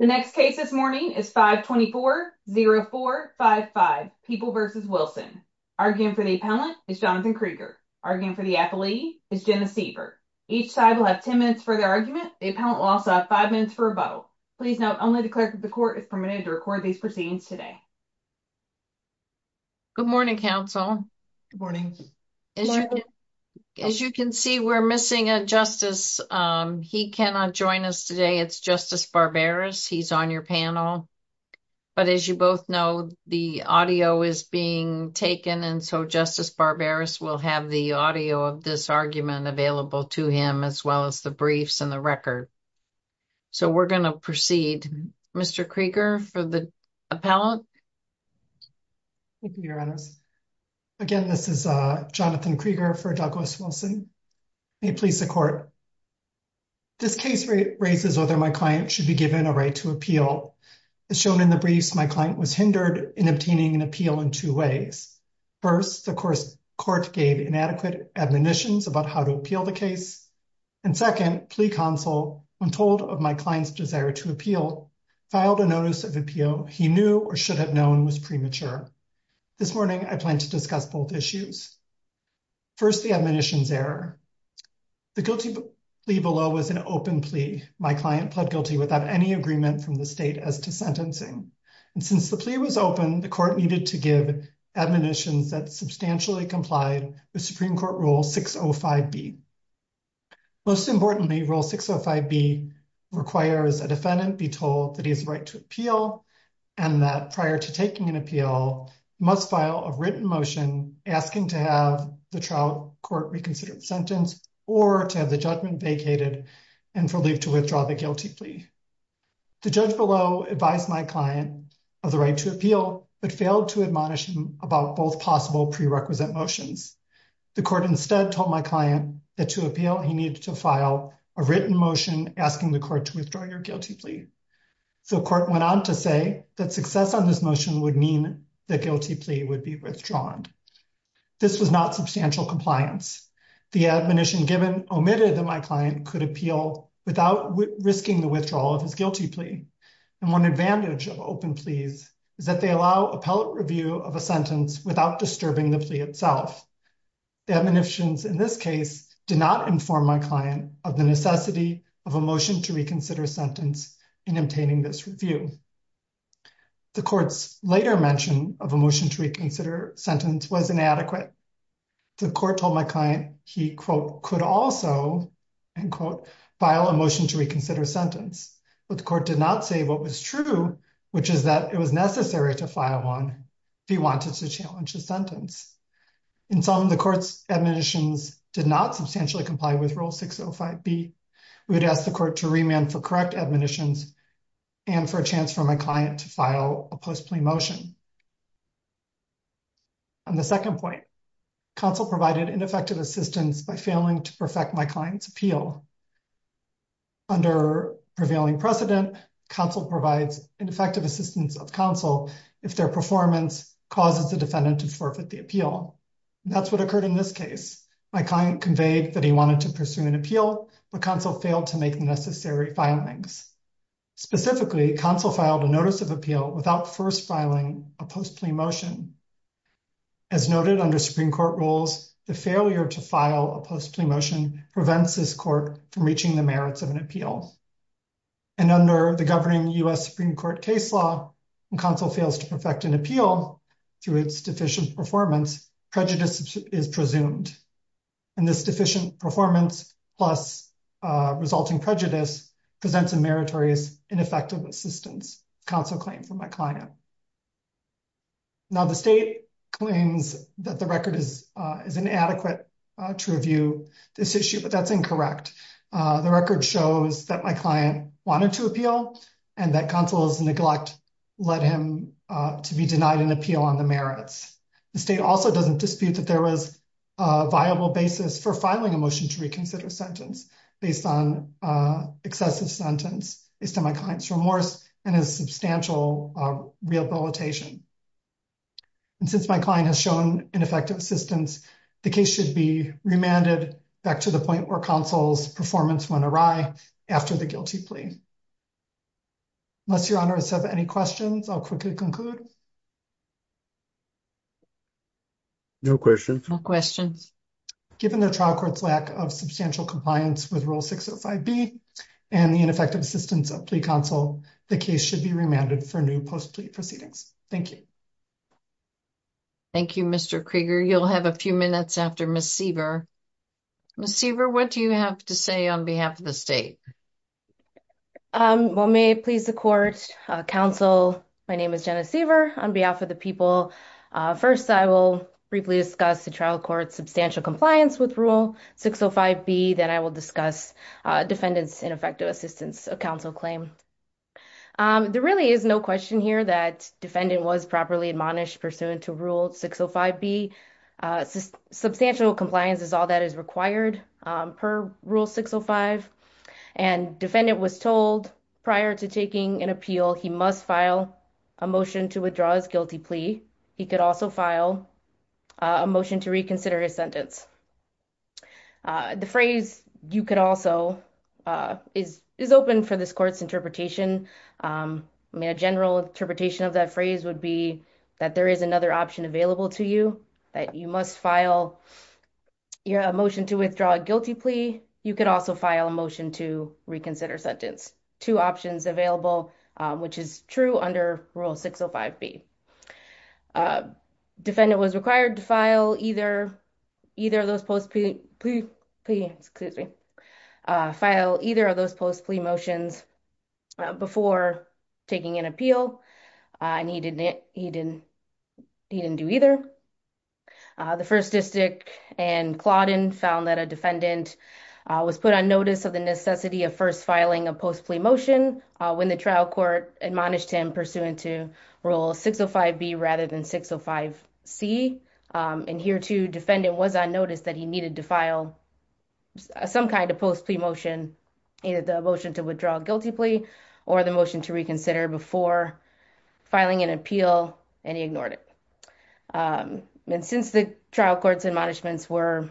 The next case this morning is 524-0455, People v. Wilson. Arguing for the appellant is Jonathan Krieger. Arguing for the appellee is Jenna Siever. Each side will have 10 minutes for their argument. The appellant will also have five minutes for rebuttal. Please note, only the clerk of the court is permitted to record these proceedings today. Good morning, counsel. Good morning. As you can see, we're missing a justice. He cannot join us today. It's Justice Barberis. He's on your panel. But as you both know, the audio is being taken, and so Justice Barberis will have the audio of this argument available to him, as well as the briefs and the record. So we're going to proceed. Mr. Krieger for the appellant. Thank you, Your Honors. Again, this is Jonathan Krieger for Douglas Wilson. May it please the court. This case raises whether my client should be given a right to appeal. As shown in the briefs, my client was hindered in obtaining an appeal in two ways. First, of course, court gave inadequate admonitions about how to appeal the case. And second, plea counsel, when told of my client's desire to appeal, filed a notice of appeal he knew or should have known was premature. This morning, I plan to discuss both issues. First, the admonitions error. The guilty plea below was an open plea. My client pled guilty without any agreement from the state as to sentencing. And since the plea was open, the court needed to give admonitions that substantially complied with Supreme Court Rule 605B. Most importantly, Rule 605B requires a defendant be told that he has the right to appeal and that prior to taking an appeal, must file a written motion asking to have the trial court reconsider the sentence or to have the judgment vacated and for leave to withdraw the guilty plea. The judge below advised my client of the right to appeal but failed to admonish him about both possible prerequisite motions. The court instead told my client that to appeal, he needed to file a written motion asking the court to withdraw your guilty plea. The court went on to say that success on this motion would mean the guilty plea would be withdrawn. This was not substantial compliance. The admonition given omitted that my client could appeal without risking the withdrawal of his guilty plea. And one advantage of open pleas is that they allow appellate review of a sentence without disturbing the plea itself. The admonitions in this case did not inform my client of the necessity of a motion to reconsider a sentence in obtaining this review. The court's later mention of a motion to reconsider sentence was inadequate. The court told my client he, quote, could also, end quote, file a motion to reconsider sentence. But the court did not say what was true, which is that it was necessary to file one if he wanted to challenge the sentence. In sum, the court's admonitions did not substantially comply with Rule 605B. We would ask the court to remand for correct admonitions and for a chance for my client to file a post-plea motion. On the second point, counsel provided ineffective assistance by failing to perfect my client's appeal. Under prevailing precedent, counsel provides ineffective assistance of counsel if their performance causes the defendant to forfeit the appeal. That's what occurred in this case. My client conveyed that he wanted to pursue an appeal, but counsel failed to make necessary filings. Specifically, counsel filed a notice of appeal without first filing a post-plea motion. As noted under Supreme Court rules, the failure to file a post-plea motion prevents this court from reaching the merits of an appeal. And under the governing U.S. Supreme Court case law, when counsel fails to perfect an appeal through its deficient performance, prejudice is presumed. And this deficient performance plus resulting prejudice presents a meritorious, ineffective assistance, counsel claimed for my client. Now, the state claims that the record is inadequate to review this issue, but that's incorrect. The record shows that my client wanted to appeal and that counsel's let him to be denied an appeal on the merits. The state also doesn't dispute that there was a viable basis for filing a motion to reconsider sentence based on excessive sentence, based on my client's remorse and his substantial rehabilitation. And since my client has shown ineffective assistance, the case should be remanded back to the point where counsel's performance went awry after the guilty plea. Unless your honors have any questions, I'll quickly conclude. No questions. Given the trial court's lack of substantial compliance with Rule 605B and the ineffective assistance of plea counsel, the case should be remanded for new post-plea proceedings. Thank you. Thank you, Mr. Krieger. You'll have a few minutes after Ms. Siever. Ms. Siever, what do you have to say on behalf of the state? Well, may it please the court, counsel, my name is Jenna Siever. On behalf of the people, first, I will briefly discuss the trial court's substantial compliance with Rule 605B. Then I will discuss defendant's ineffective assistance, a counsel claim. There really is no question here that defendant was properly admonished pursuant to Rule 605B, since substantial compliance is all that is required per Rule 605. And defendant was told prior to taking an appeal, he must file a motion to withdraw his guilty plea. He could also file a motion to reconsider his sentence. The phrase, you could also, is open for this court's interpretation. I mean, a general interpretation of that phrase would be that there is another option available to you, that you must file a motion to withdraw a guilty plea. You could also file a motion to reconsider sentence. Two options available, which is true under Rule 605B. Defendant was required to file either of those post-plea motions before taking an appeal, and he didn't do either. The First District and Clawdon found that a defendant was put on notice of the necessity of first filing a post-plea motion when the trial court admonished him pursuant to Rule 605B rather than 605C. And here too, defendant was on notice that he needed to file some kind of post-plea motion, either the motion to withdraw a guilty plea or the motion to reconsider before filing an appeal, and he ignored it. And since the trial court's admonishments are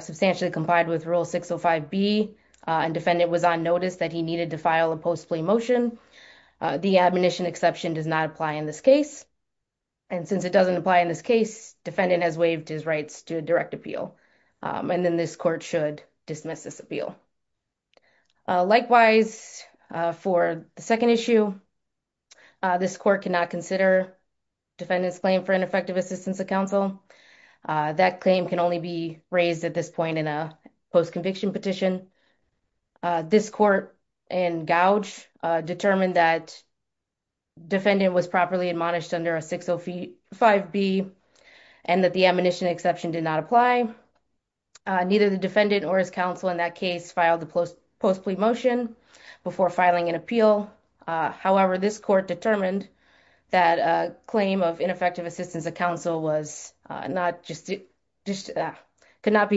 substantially complied with Rule 605B, and defendant was on notice that he needed to file a post-plea motion, the admonition exception does not apply in this case. And since it doesn't apply in this case, defendant has waived his rights to direct appeal, and then this court should dismiss this appeal. Likewise, for the second issue, this court cannot consider defendant's claim for ineffective assistance of counsel. That claim can only be raised at this point in a post-conviction petition. This court and Gouge determined that defendant was properly admonished under a 605B and that the admonition exception did not apply. Neither the defendant or his counsel in that case filed the post-plea motion before filing an appeal. However, this court determined that a claim of ineffective assistance of counsel could not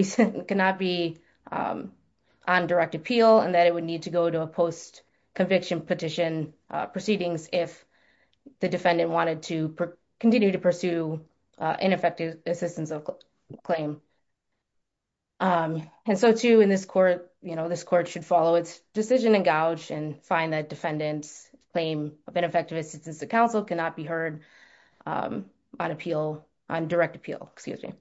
be on direct appeal and that it would need to go to a post-conviction petition proceedings if the defendant wanted to continue to pursue ineffective assistance of claim. And so, too, in this court, you know, this court should follow its decision in Gouge and find that defendant's claim of ineffective assistance of counsel cannot be heard on appeal, on direct appeal, excuse me.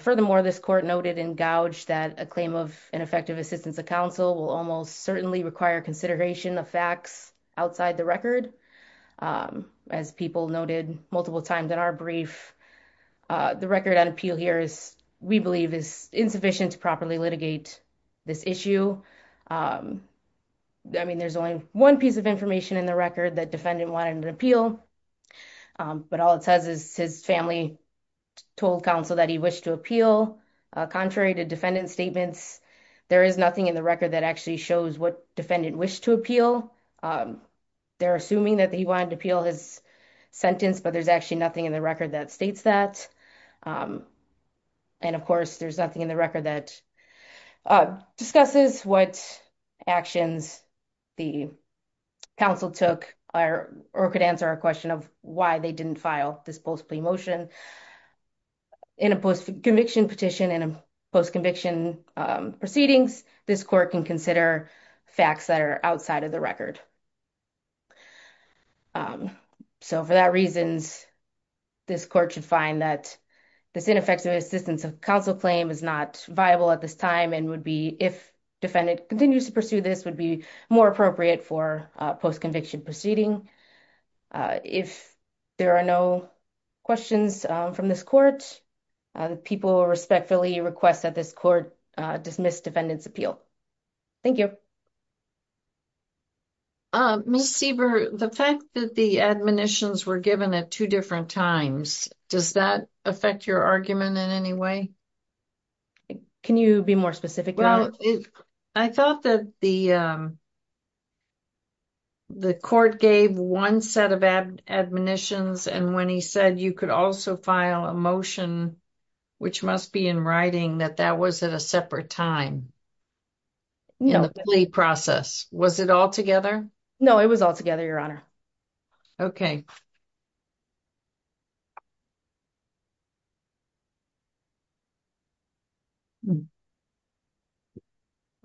Furthermore, this court noted in Gouge that a claim of ineffective assistance of counsel will almost certainly require consideration of facts outside the record. As people noted multiple times in our brief, the record on appeal here is, we believe, is insufficient to properly litigate this issue. I mean, there's only one piece of information in the record that defendant wanted an appeal, but all it says is his family told counsel that he wished to appeal. Contrary to defendant statements, there is nothing in the record that actually shows what defendant wished to appeal. They're assuming that he wanted to appeal his sentence, but there's actually nothing in the record that states that. And of course, there's nothing in the record that discusses what actions the counsel took or could answer a question of why they didn't file this post-plea motion. In a post-conviction petition, in a post-conviction proceedings, this court can consider facts that are outside of the record. So, for that reasons, this court should find that this ineffective assistance of counsel claim is not viable at this time and would be, if defendant continues to pursue this, would be more appropriate for a post-conviction proceeding. If there are no questions from this court, people respectfully request that this court dismiss defendant's appeal. Thank you. Ms. Sieber, the fact that the admonitions were given at two different times, does that affect your argument in any way? Can you be more specific? Well, I thought that the court gave one set of admonitions, and when he said you could also file a motion, which must be in writing, that that was at a separate time in the plea process. Was it all together? No, it was all together, Your Honor. Okay.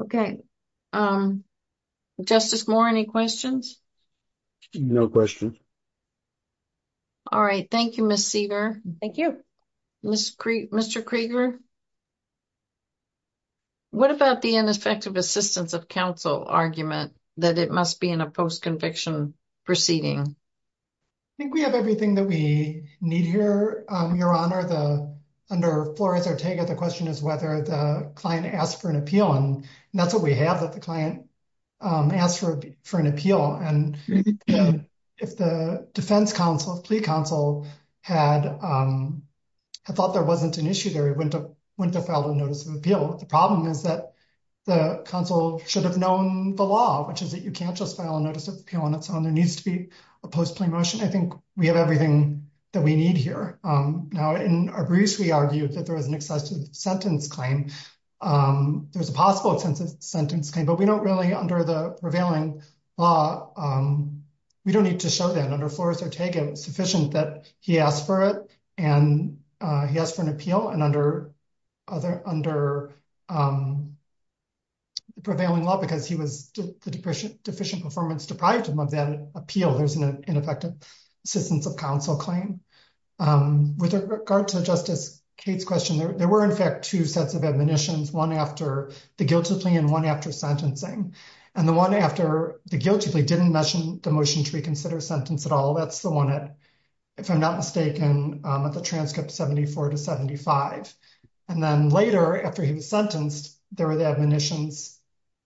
Okay. Justice Moore, any questions? No questions. All right. Thank you, Ms. Sieber. Thank you. Mr. Krieger, what about the ineffective assistance of counsel argument that it must be in a post-conviction proceeding? I think we have everything that we need here, Your Honor. Under Flores-Ortega, the question is whether the client asked for an appeal, and that's what we thought. There wasn't an issue there. He went to file a notice of appeal. The problem is that the counsel should have known the law, which is that you can't just file a notice of appeal on its own. There needs to be a post-plea motion. I think we have everything that we need here. Now, in our briefs, we argued that there was an excessive sentence claim. There's a possible sentence claim, but we don't really, under the prevailing law, we don't need to show that. Under Flores-Ortega, it's sufficient that he asked for it, and he asked for an appeal. Under the prevailing law, because the deficient performance deprived him of that appeal, there's an ineffective assistance of counsel claim. With regard to Justice Cates' question, there were, in fact, two sets of admonitions, one after the guilty plea and one after sentencing. The one after the guilty plea didn't mention the motion to reconsider sentence at all. That's the one, if I'm not mistaken, at the transcript 74 to 75. Then later, after he was sentenced, there were the admonitions,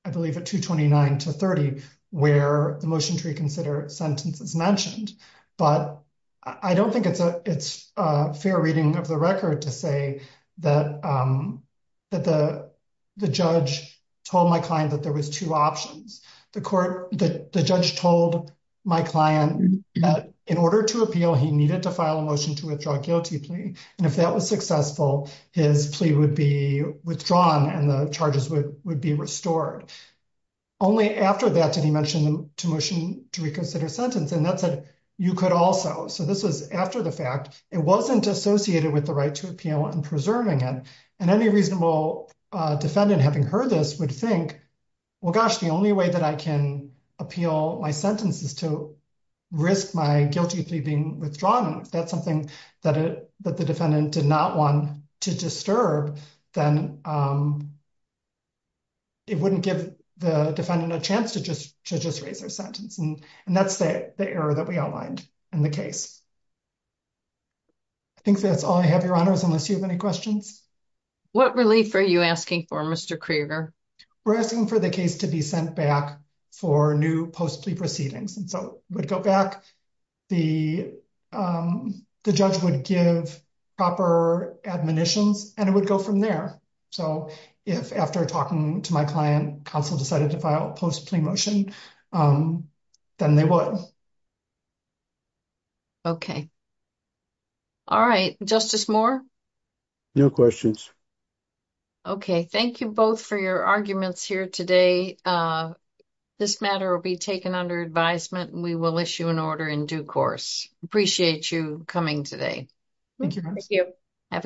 I believe, at 229 to 30, where the motion to reconsider sentence is mentioned. I don't think it's a fair reading of the record to say that the judge told my client that there was two options. The judge told my client that in order to appeal, he needed to file a motion to withdraw guilty plea, and if that was successful, his plea would be withdrawn and the charges would be restored. Only after that did he mention the motion to reconsider sentence, and that said, you could also. This was after the fact. It wasn't associated with the right to appeal and preserving it. Any reasonable defendant, having heard this, would think, well, gosh, the only way that I can appeal my sentence is to risk my guilty plea being withdrawn. If that's something that the defendant did not want to disturb, then it wouldn't give the defendant a chance to just raise their sentence. That's the error that we outlined in the case. I think that's all I have, Your Honors, unless you have any questions. What relief are you asking for, Mr. Krieger? We're asking for the case to be sent back for new post-plea proceedings. It would go back, the judge would give proper admonitions, and it would go from there. If after talking to my client, counsel decided to file a post-plea motion, then they would. Okay. All right. Justice Moore? No questions. Okay. Thank you both for your arguments here today. This matter will be taken under advisement. We will issue an order in due course. Appreciate you coming today. Thank you. Thank you. Have a good day.